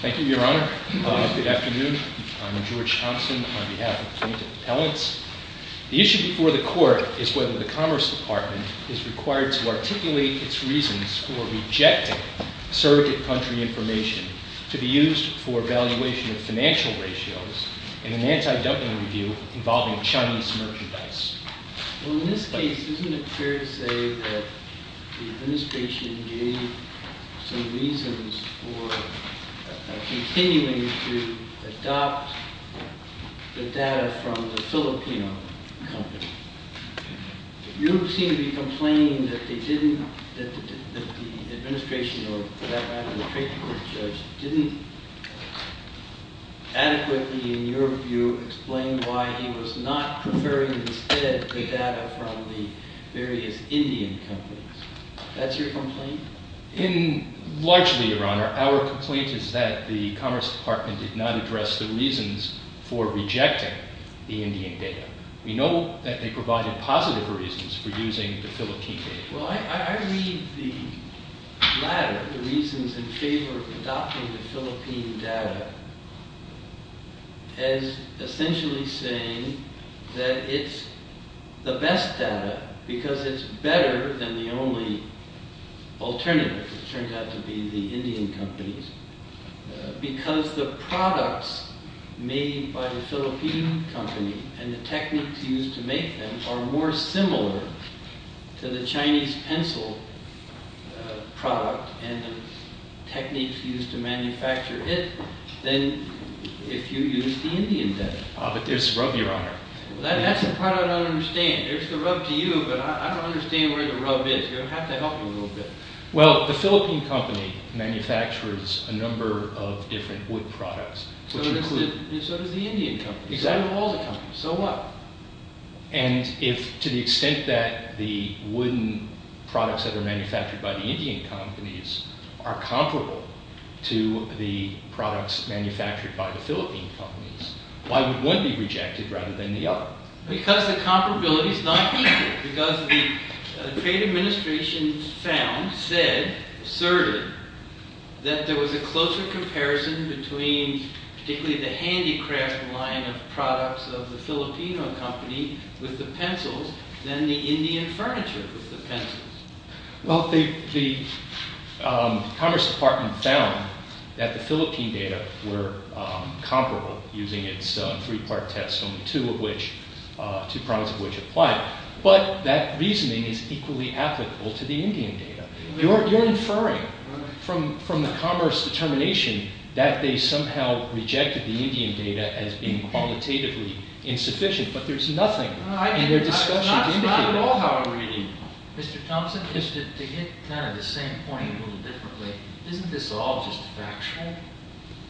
Thank you, Your Honor. Good afternoon. I'm George Thompson on behalf of the Plaintiff's Court of Appeals, and I'd like to begin by asking the court whether the Commerce Department is required to articulate its reasons for rejecting surrogate country information to be used for evaluation of financial ratios in an anti-dumping review involving Chinese merchandise. Well, in this case, isn't it fair to say that the administration gave some reasons for continuing to adopt the data from the Filipino company? You seem to be complaining that they didn't, that the administration or, for that matter, the treatment judge didn't adequately, in your view, explain why he was not preferring instead the data from the various Indian companies. That's your complaint? Largely, Your Honor, our complaint is that the Commerce Department did not address the We know that they provided positive reasons for using the Philippine data. Well, I read the latter, the reasons in favor of adopting the Philippine data, as essentially saying that it's the best data because it's better than the only alternative, which turns out to be the Indian companies, because the products made by the Philippine company and the techniques used to make them are more similar to the Chinese pencil product and the techniques used to manufacture it than if you used the Indian data. Ah, but there's rub, Your Honor. That's the part I don't understand. There's the rub to you, but I don't understand where the rub is. You're going to have to help me a little bit. Well, the Philippine company manufactures a number of different wood products. So does the Indian company. So do all the companies. So what? And if, to the extent that the wooden products that are manufactured by the Indian companies are comparable to the products manufactured by the Philippine companies, why would one be rejected rather than the other? Because the comparability is not equal. Because the trade administration found, said, asserted that there was a closer comparison between particularly the handicraft line of products of the Filipino company with the pencils than the Indian furniture with the pencils. Well, the Commerce Department found that the Philippine data were comparable using its three-part test, only two of which, two products of which applied. But that reasoning is equally applicable to the Indian data. You're inferring from the Commerce determination that they somehow rejected the Indian data as being qualitatively insufficient. But there's nothing in their discussion to indicate that. It's not at all how I'm reading it. Mr. Thompson, just to hit kind of the same point a little differently, isn't this all just factual?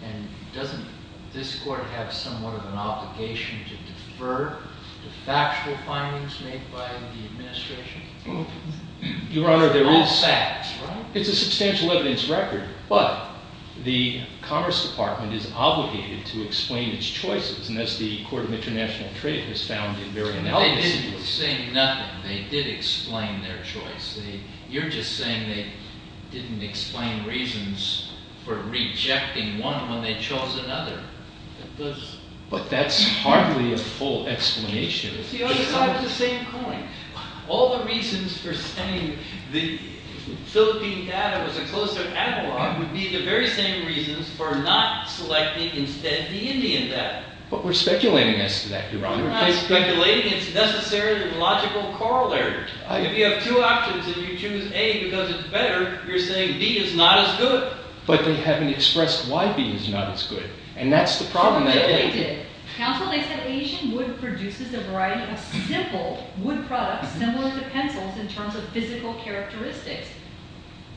And doesn't this court have somewhat of an obligation to defer to factual findings made by the administration? Your Honor, there is fact. It's a substantial evidence record. But the Commerce Department is obligated to explain its choices. And as the Court of International Trade has found in very analysis. They didn't say nothing. They did explain their choice. You're just saying they didn't explain reasons for rejecting one when they chose another. But that's hardly a full explanation. Besides the same point, all the reasons for saying the Philippine data was a closer analog would be the very same reasons for not selecting instead the Indian data. But we're speculating as to that, Your Honor. You're not speculating. It's a necessary and logical corollary. If you have two options and you choose A because it's better, you're saying B is not as good. But they haven't expressed why B is not as good. And that's the problem. Counsel, they said Asian wood produces a variety of simple wood products similar to pencils in terms of physical characteristics.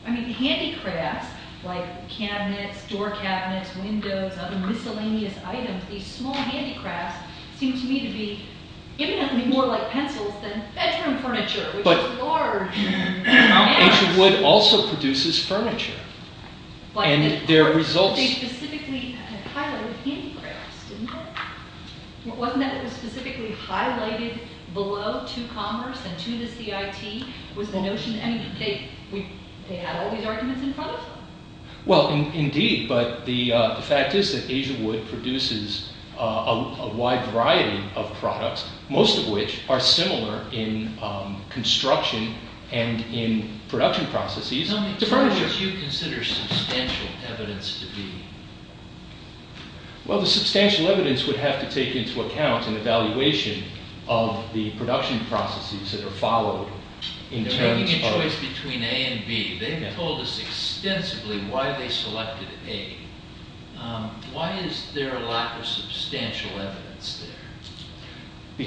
I mean handicrafts like cabinets, door cabinets, windows, other miscellaneous items, these small handicrafts seem to me to be more like pencils than bedroom furniture. But Asian wood also produces furniture. They specifically highlighted handicrafts, didn't they? Wasn't that specifically highlighted below to commerce and to the CIT? They had all these arguments in front of them. Indeed, but the fact is that Asian wood produces a wide variety of products, most of which are similar in construction and in production processes to furniture. What would you consider substantial evidence to be? Well, the substantial evidence would have to take into account an evaluation of the production processes that are followed. They're making a choice between A and B. They've told us extensively why they selected A. Why is there a lack of substantial evidence there?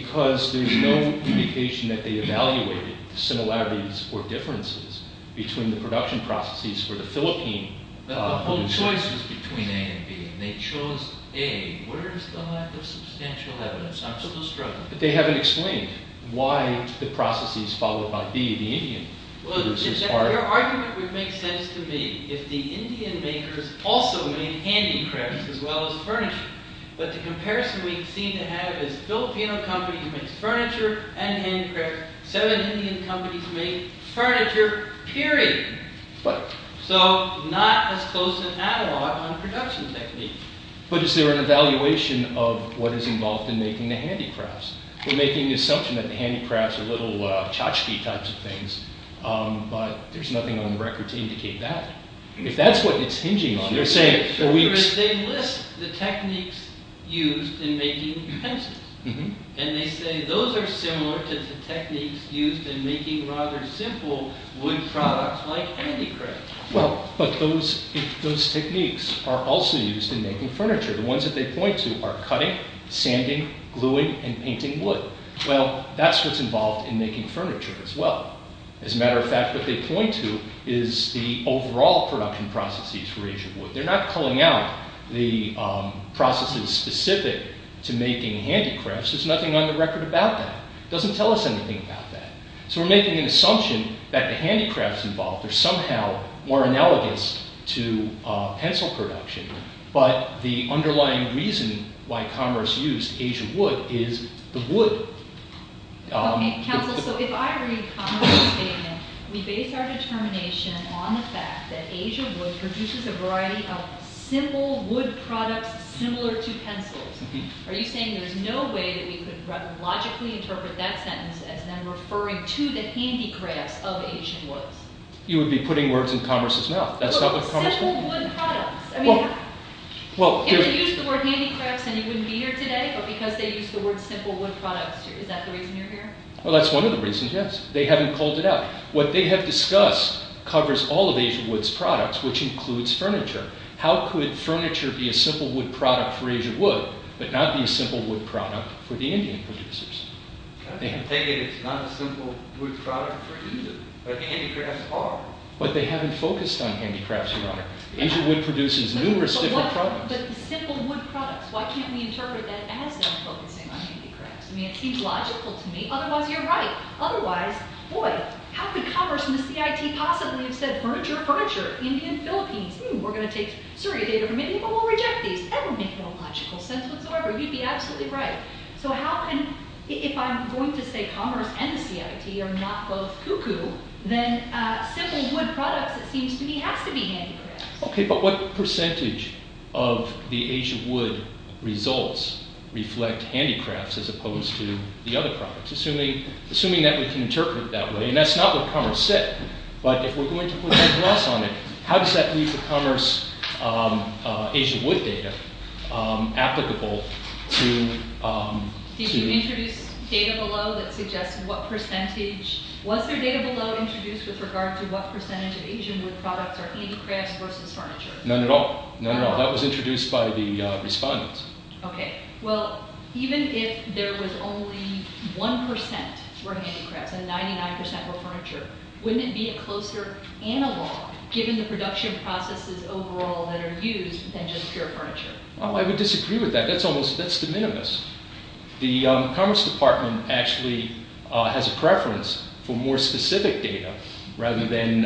Because there's no indication that they evaluated similarities or differences between the production processes for the Philippine. The whole choice is between A and B. They chose A. Where's the lack of substantial evidence? I'm still struggling. But they haven't explained why the processes followed by B, the Indian. Well, your argument would make sense to me if the Indian makers also made handicrafts as well as furniture. But the comparison we seem to have is Filipino companies make furniture and handicrafts. Seven Indian companies make furniture, period. So not as close to an analog on production techniques. But is there an evaluation of what is involved in making the handicrafts? We're making the assumption that the handicrafts are little tchotchke types of things, but there's nothing on the record to indicate that. If that's what it's hinging on, they're saying... They list the techniques used in making pencils. And they say those are similar to the techniques used in making rather simple wood products like handicrafts. Well, but those techniques are also used in making furniture. The ones that they point to are cutting, sanding, gluing, and painting wood. Well, that's what's involved in making furniture as well. As a matter of fact, what they point to is the overall production processes for Asian wood. They're not calling out the processes specific to making handicrafts. There's nothing on the record about that. It doesn't tell us anything about that. So we're making an assumption that the handicrafts involved are somehow more analogous to pencil production. But the underlying reason why commerce used Asian wood is the wood. Counsel, so if I read Commerce's statement, we base our determination on the fact that Asian wood produces a variety of simple wood products similar to pencils. Are you saying there's no way that we could logically interpret that sentence as then referring to the handicrafts of Asian woods? You would be putting words in Commerce's mouth. Simple wood products. If they used the word handicrafts, then you wouldn't be here today, but because they used the word simple wood products, is that the reason you're here? Well, that's one of the reasons, yes. They haven't called it out. What they have discussed covers all of Asian wood's products, which includes furniture. How could furniture be a simple wood product for Asian wood, but not be a simple wood product for the Indian producers? I take it it's not a simple wood product for India, but handicrafts are. But they haven't focused on handicrafts, Your Honor. Asian wood produces numerous different products. But the simple wood products, why can't we interpret that as them focusing on handicrafts? I mean, it seems logical to me. Otherwise, you're right. Otherwise, boy, how could Commerce and the CIT possibly have said, Furniture, furniture, Indian, Philippines. We're going to take surrogate agreement, but we'll reject these. That would make no logical sense whatsoever. You'd be absolutely right. So how can, if I'm going to say Commerce and the CIT are not both cuckoo, then simple wood products, it seems to me, has to be handicrafts. Okay, but what percentage of the Asian wood results reflect handicrafts as opposed to the other products? Assuming that we can interpret it that way. And that's not what Commerce said. But if we're going to put a cross on it, how does that leave the Commerce Asian wood data applicable to... Did you introduce data below that suggests what percentage... Was there data below introduced with regard to what percentage of Asian wood products are handicrafts versus furniture? None at all. None at all. That was introduced by the respondents. Okay. Well, even if there was only 1% were handicrafts and 99% were furniture, wouldn't it be a closer analog given the production processes overall that are used than just pure furniture? Well, I would disagree with that. That's almost, that's de minimis. The Commerce Department actually has a preference for more specific data rather than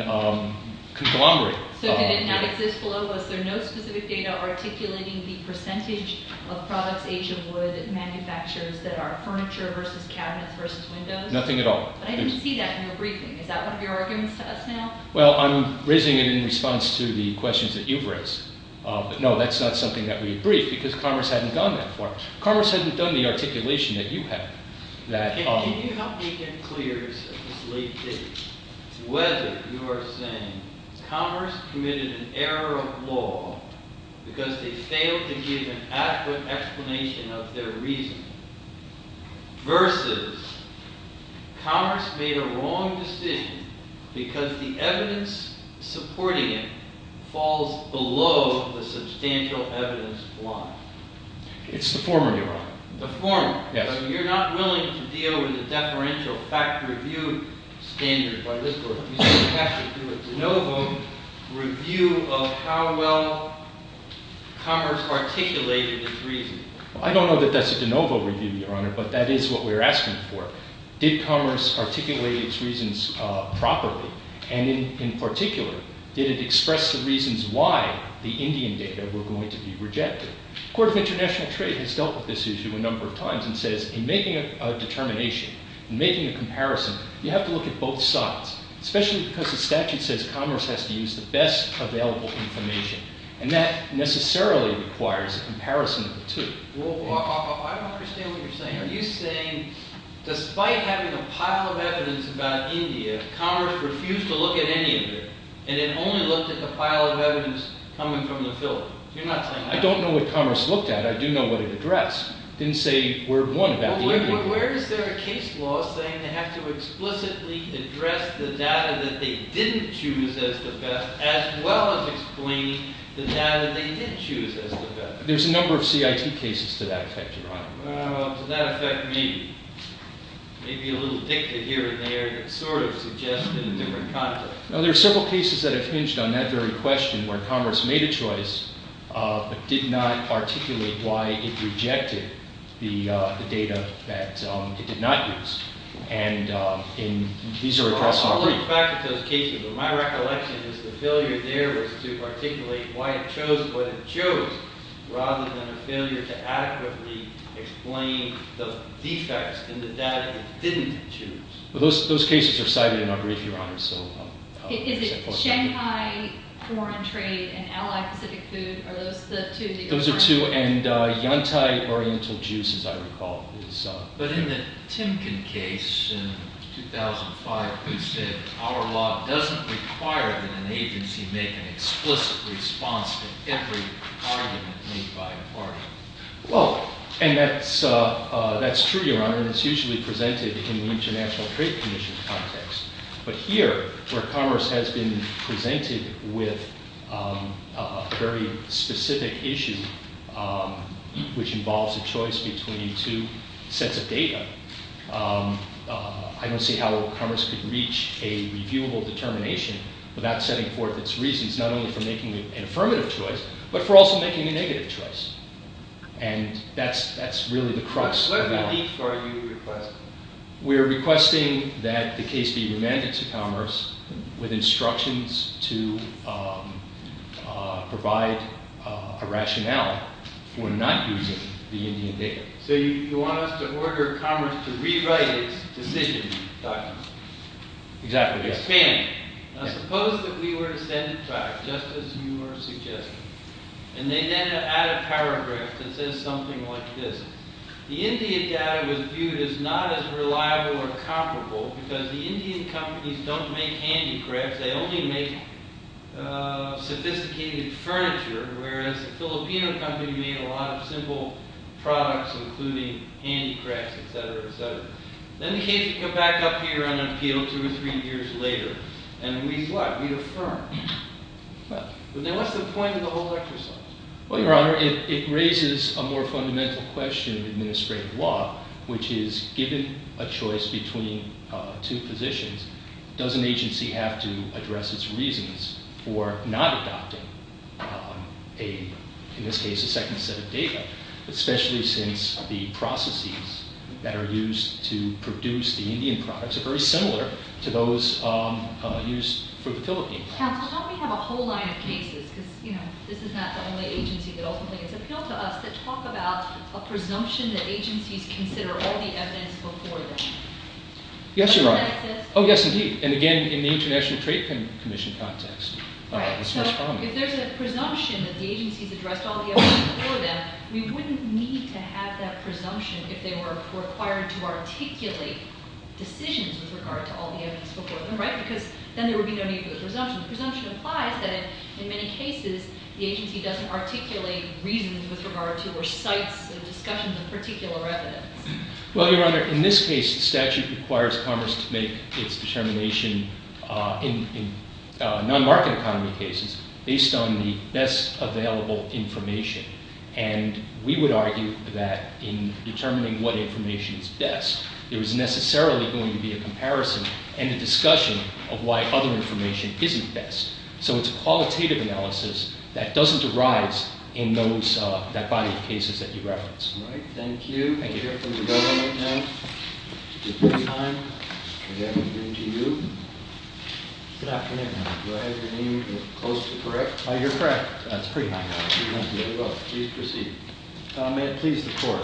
conglomerate. So did it not exist below? Was there no specific data articulating the percentage of products Asian wood manufacturers that are furniture versus cabinets versus windows? Nothing at all. I didn't see that in your briefing. Is that one of your arguments to us now? Well, I'm raising it in response to the questions that you've raised. But no, that's not something that we briefed because Commerce hadn't done that for us. Commerce hadn't done the articulation that you have. Can you help me get clear as to whether you are saying Commerce committed an error of law because they failed to give an adequate explanation of their reason versus Commerce made a wrong decision because the evidence supporting it falls below the substantial evidence line? It's the former, Your Honor. The former. Yes. You're not willing to deal with the deferential fact review standard by this court. You have to do a de novo review of how well Commerce articulated its reason. I don't know that that's a de novo review, Your Honor, but that is what we're asking for. Did Commerce articulate its reasons properly? And in particular, did it express the reasons why the Indian data were going to be rejected? The Court of International Trade has dealt with this issue a number of times and says in making a determination, in making a comparison, you have to look at both sides, especially because the statute says Commerce has to use the best available information. And that necessarily requires a comparison of the two. Well, I don't understand what you're saying. Are you saying despite having a pile of evidence about India, Commerce refused to look at any of it and it only looked at the pile of evidence coming from the Philippines? You're not saying that. I don't know what Commerce looked at. I do know what it addressed. It didn't say word one about the evidence. Well, where is there a case law saying they have to explicitly address the data that they didn't choose as the best as well as explaining the data they did choose as the best? There's a number of CIT cases to that effect, Your Honor. Well, to that effect, maybe. Maybe a little dicta here and there that sort of suggests it in a different context. Now, there are several cases that have hinged on that very question where Commerce made a choice but did not articulate why it rejected the data that it did not use. And these are addressed in the brief. I'll look back at those cases. But my recollection is the failure there was to articulate why it chose what it chose rather than a failure to adequately explain the defects in the data it didn't choose. Well, those cases are cited in our brief, Your Honor. Is it Shanghai Foreign Trade and Allied Pacific Food? Are those the two that you're referring to? Those are two, and Yantai Oriental Juice, as I recall. But in the Timken case in 2005, who said, our law doesn't require that an agency make an explicit response to every argument made by a party. Well, and that's true, Your Honor. And it's usually presented in the International Trade Commission context. But here, where Commerce has been presented with a very specific issue, which involves a choice between two sets of data, I don't see how Commerce could reach a reviewable determination without setting forth its reasons not only for making an affirmative choice but for also making a negative choice. And that's really the crux of the problem. So what relief are you requesting? We're requesting that the case be remanded to Commerce with instructions to provide a rationale for not using the Indian data. So you want us to order Commerce to rewrite its decision documents. Exactly, yes. Expand it. Now, suppose that we were to send it back, just as you were suggesting. And they then add a paragraph that says something like this. The Indian data was viewed as not as reliable or comparable because the Indian companies don't make handicrafts. They only make sophisticated furniture, whereas the Filipino company made a lot of simple products, including handicrafts, et cetera, et cetera. Then the case would come back up here on appeal two or three years later. And we'd what? We'd affirm. What's the point of the whole exercise? Well, Your Honor, it raises a more fundamental question in administrative law, which is given a choice between two positions, does an agency have to address its reasons for not adopting, in this case, a second set of data, especially since the processes that are used to produce the Indian products are very similar to those used for the Philippine products. Counsel, don't we have a whole line of cases? Because, you know, this is not the only agency that ultimately gets appealed to us that talk about a presumption that agencies consider all the evidence before them. Yes, Your Honor. Does that exist? Oh, yes, indeed. And, again, in the International Trade Commission context. Right. So if there's a presumption that the agencies addressed all the evidence before them, we wouldn't need to have that presumption if they were required to articulate decisions with regard to all the evidence before them, right? Because then there would be no need for the presumption. The presumption implies that, in many cases, the agency doesn't articulate reasons with regard to or cites discussions of particular evidence. Well, Your Honor, in this case, the statute requires Congress to make its determination in non-market economy cases based on the best available information. And we would argue that in determining what information is best, there is necessarily going to be a comparison and a discussion of why other information isn't best. So it's a qualitative analysis that doesn't arise in that body of cases that you referenced. All right. Thank you, Your Honor. Thank you for your time. Good afternoon to you. Good afternoon, Your Honor. Do I have your name close to correct? You're correct. That's pretty high. Thank you. Please proceed. May it please the Court.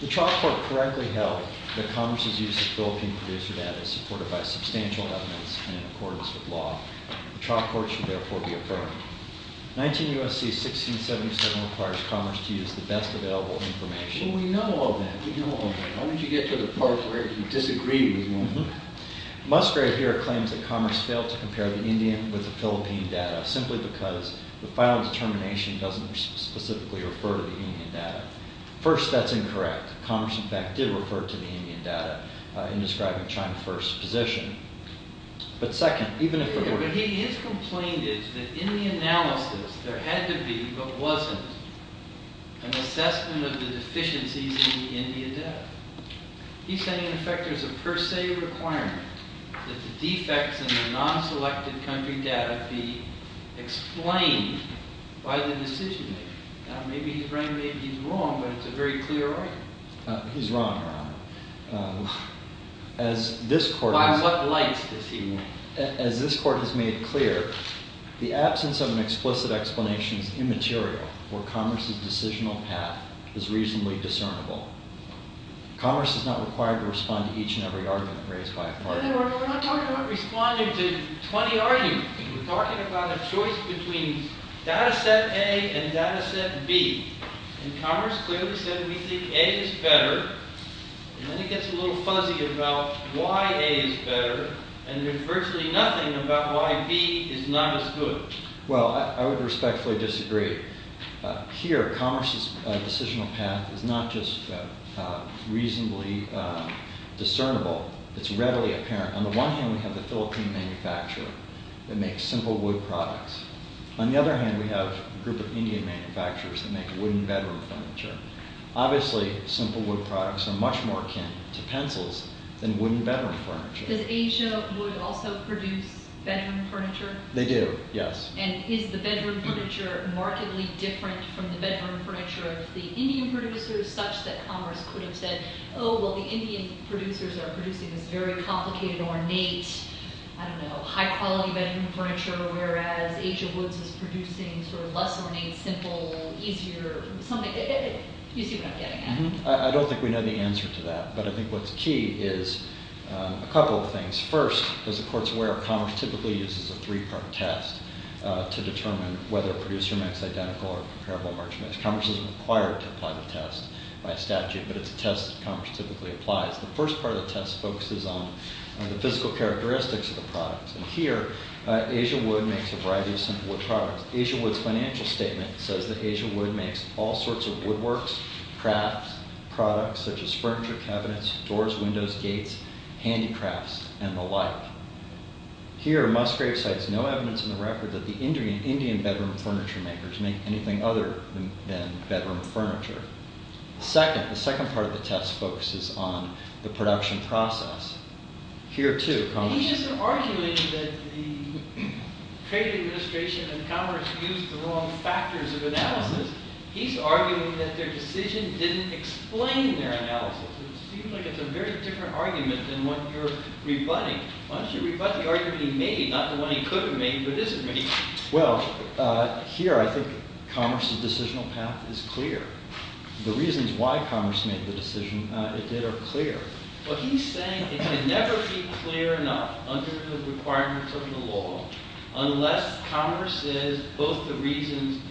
The trial court correctly held that Congress's use of Philippine producer data is supported by substantial evidence in accordance with law. The trial court should therefore be affirmed. 19 U.S.C. 1677 requires Congress to use the best available information. Well, we know all that. We know all that. Why don't you get to the part where you disagree with me? Musgrave here claims that Congress failed to compare the Indian with the Philippine data simply because the final determination doesn't specifically refer to the Indian data. First, that's incorrect. Congress, in fact, did refer to the Indian data in describing China's first position. But second, even if it were to be true. But he has complained that in the analysis there had to be, but wasn't, an assessment of the deficiencies in the Indian data. He's saying, in effect, there's a per se requirement that the defects in the non-selected country data be explained by the decision-maker. Maybe he's right and maybe he's wrong, but it's a very clear argument. He's wrong, Your Honor. By what lights does he mean? As this court has made clear, the absence of an explicit explanation is immaterial where Congress's decisional path is reasonably discernible. Congress is not required to respond to each and every argument raised by a partner. We're not talking about responding to 20 arguments. We're talking about a choice between data set A and data set B. And Congress clearly said we think A is better. And then he gets a little fuzzy about why A is better. And there's virtually nothing about why B is not as good. Well, I would respectfully disagree. Here, Congress's decisional path is not just reasonably discernible. It's readily apparent. On the one hand, we have the Philippine manufacturer that makes simple wood products. On the other hand, we have a group of Indian manufacturers that make wooden bedroom furniture. Obviously, simple wood products are much more akin to pencils than wooden bedroom furniture. Does Asia wood also produce bedroom furniture? They do, yes. And is the bedroom furniture markedly different from the bedroom furniture of the Indian producers such that Congress could have said, oh, well, the Indian producers are producing this very complicated, ornate, I don't know, high-quality bedroom furniture, whereas Asia woods is producing sort of less ornate, simple, easier, something. You see what I'm getting at. I don't think we know the answer to that. But I think what's key is a couple of things. First, because the court's aware of Congress typically uses a three-part test to determine whether a producer makes identical or comparable merchandise. Congress is required to apply the test by statute, but it's a test that Congress typically applies. The first part of the test focuses on the physical characteristics of the products. Here, Asia wood makes a variety of simple wood products. Asia wood's financial statement says that Asia wood makes all sorts of woodworks, crafts, products, such as furniture cabinets, doors, windows, gates, handicrafts, and the like. Here, Musgrave cites no evidence in the record that the Indian bedroom furniture makers make anything other than bedroom furniture. The second part of the test focuses on the production process. Here, too, Congress... He isn't arguing that the trade administration and Congress used the wrong factors of analysis. He's arguing that their decision didn't explain their analysis. It seems like it's a very different argument than what you're rebutting. Why don't you rebut the argument he made, not the one he could have made but isn't making? Well, here I think Congress's decisional path is clear. The reasons why Congress made the decision it did are clear. But he's saying it can never be clear enough under the requirements of the law unless Congress says both the reasons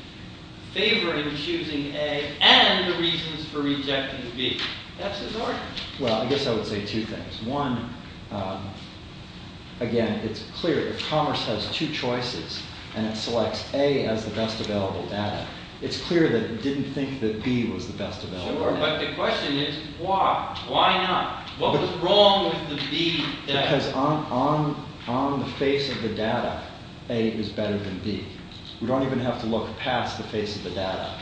favoring choosing A and the reasons for rejecting B. That's his argument. Well, I guess I would say two things. One, again, it's clear. If Congress has two choices and it selects A as the best available data, it's clear that it didn't think that B was the best available data. Sure, but the question is why? Why not? What was wrong with the B data? Because on the face of the data, A is better than B. We don't even have to look past the face of the data.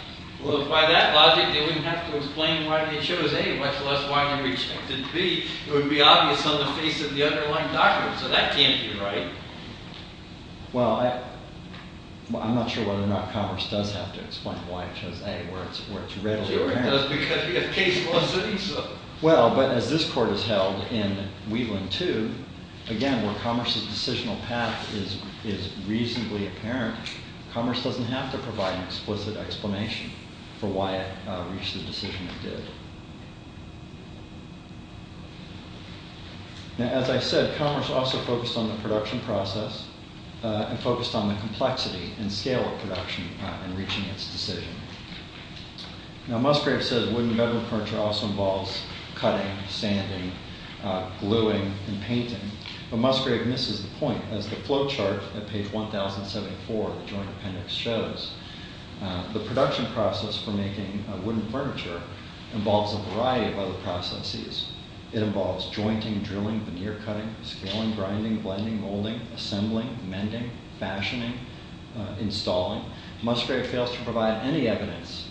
Well, if by that logic they wouldn't have to explain why they chose A, much less why they rejected B, it would be obvious on the face of the underlying document. So that can't be right. Well, I'm not sure whether or not Congress does have to explain why it chose A, where it's readily apparent. Sure, it does, because we have case laws saying so. Well, but as this Court has held in Wieland 2, again, where Congress's decisional path is reasonably apparent, Congress doesn't have to provide an explicit explanation for why it reached the decision it did. Now, as I said, Congress also focused on the production process and focused on the complexity and scale of production in reaching its decision. Now, Musgrave says wooden bedroom furniture also involves cutting, sanding, gluing, and painting, but Musgrave misses the point. As the flowchart at page 1074 of the Joint Appendix shows, the production process for making wooden furniture involves a variety of other processes. It involves jointing, drilling, veneer cutting, scaling, grinding, blending, molding, assembling, mending, fashioning, installing. Musgrave fails to provide any evidence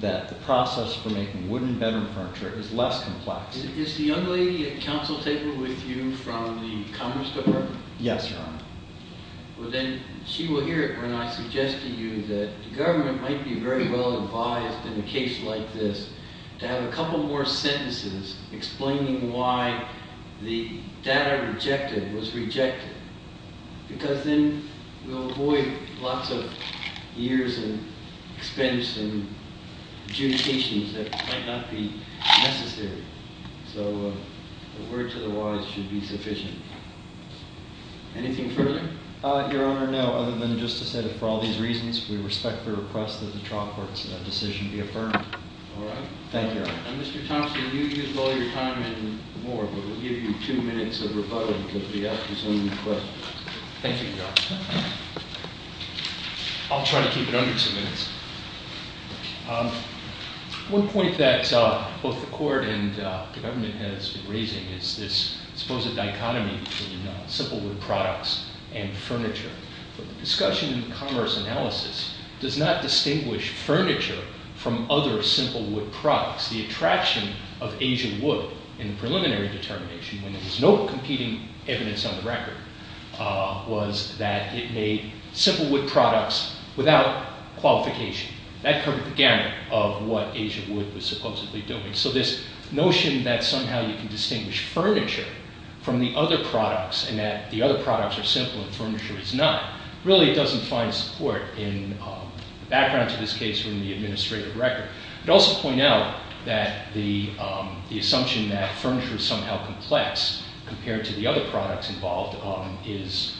that the process for making wooden bedroom furniture is less complex. Is the young lady at counsel table with you from the Commerce Department? Yes, Your Honor. Well, then she will hear it when I suggest to you that the government might be very well advised in a case like this to have a couple more sentences explaining why the data rejected was rejected, because then we'll avoid lots of years and expense and adjudications that might not be necessary. So a word to the wise should be sufficient. Anything further? Your Honor, no. Other than just to say that for all these reasons, we respect the request that the trial court's decision be affirmed. All right. Thank you, Your Honor. And Mr. Thompson, you use all your time and more, but we'll give you two minutes of rebuttal because we have just one request. Thank you, Your Honor. I'll try to keep it under two minutes. One point that both the court and the government has been raising is this supposed dichotomy between simple wood products and furniture. But the discussion in commerce analysis does not distinguish furniture from other simple wood products. The attraction of Asian wood in the preliminary determination, when there was no competing evidence on the record, was that it made simple wood products without qualification. That covered the gamut of what Asian wood was supposedly doing. So this notion that somehow you can distinguish furniture from the other products and that the other products are simple and furniture is not, really doesn't find support in the background to this case or in the administrative record. It also points out that the assumption that furniture is somehow complex compared to the other products involved is,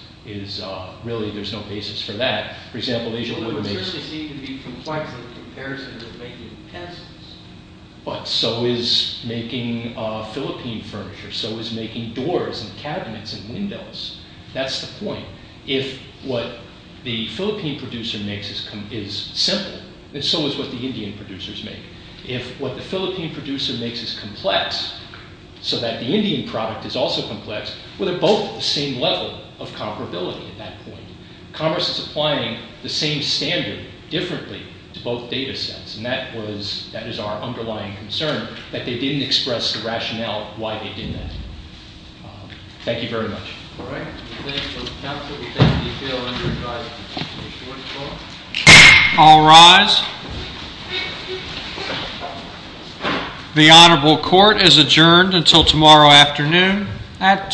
really, there's no basis for that. For example, Asian wood makes... Well, it would certainly seem to be complex in comparison to making pencils. But so is making Philippine furniture. So is making doors and cabinets and windows. That's the point. If what the Philippine producer makes is simple, then so is what the Indian producers make. If what the Philippine producer makes is complex so that the Indian product is also complex, well, they're both at the same level of comparability at that point. Commerce is applying the same standard differently to both data sets. And that is our underlying concern, that they didn't express the rationale why they did that. Thank you very much. All rise. The Honorable Court is adjourned until tomorrow afternoon at 2 o'clock.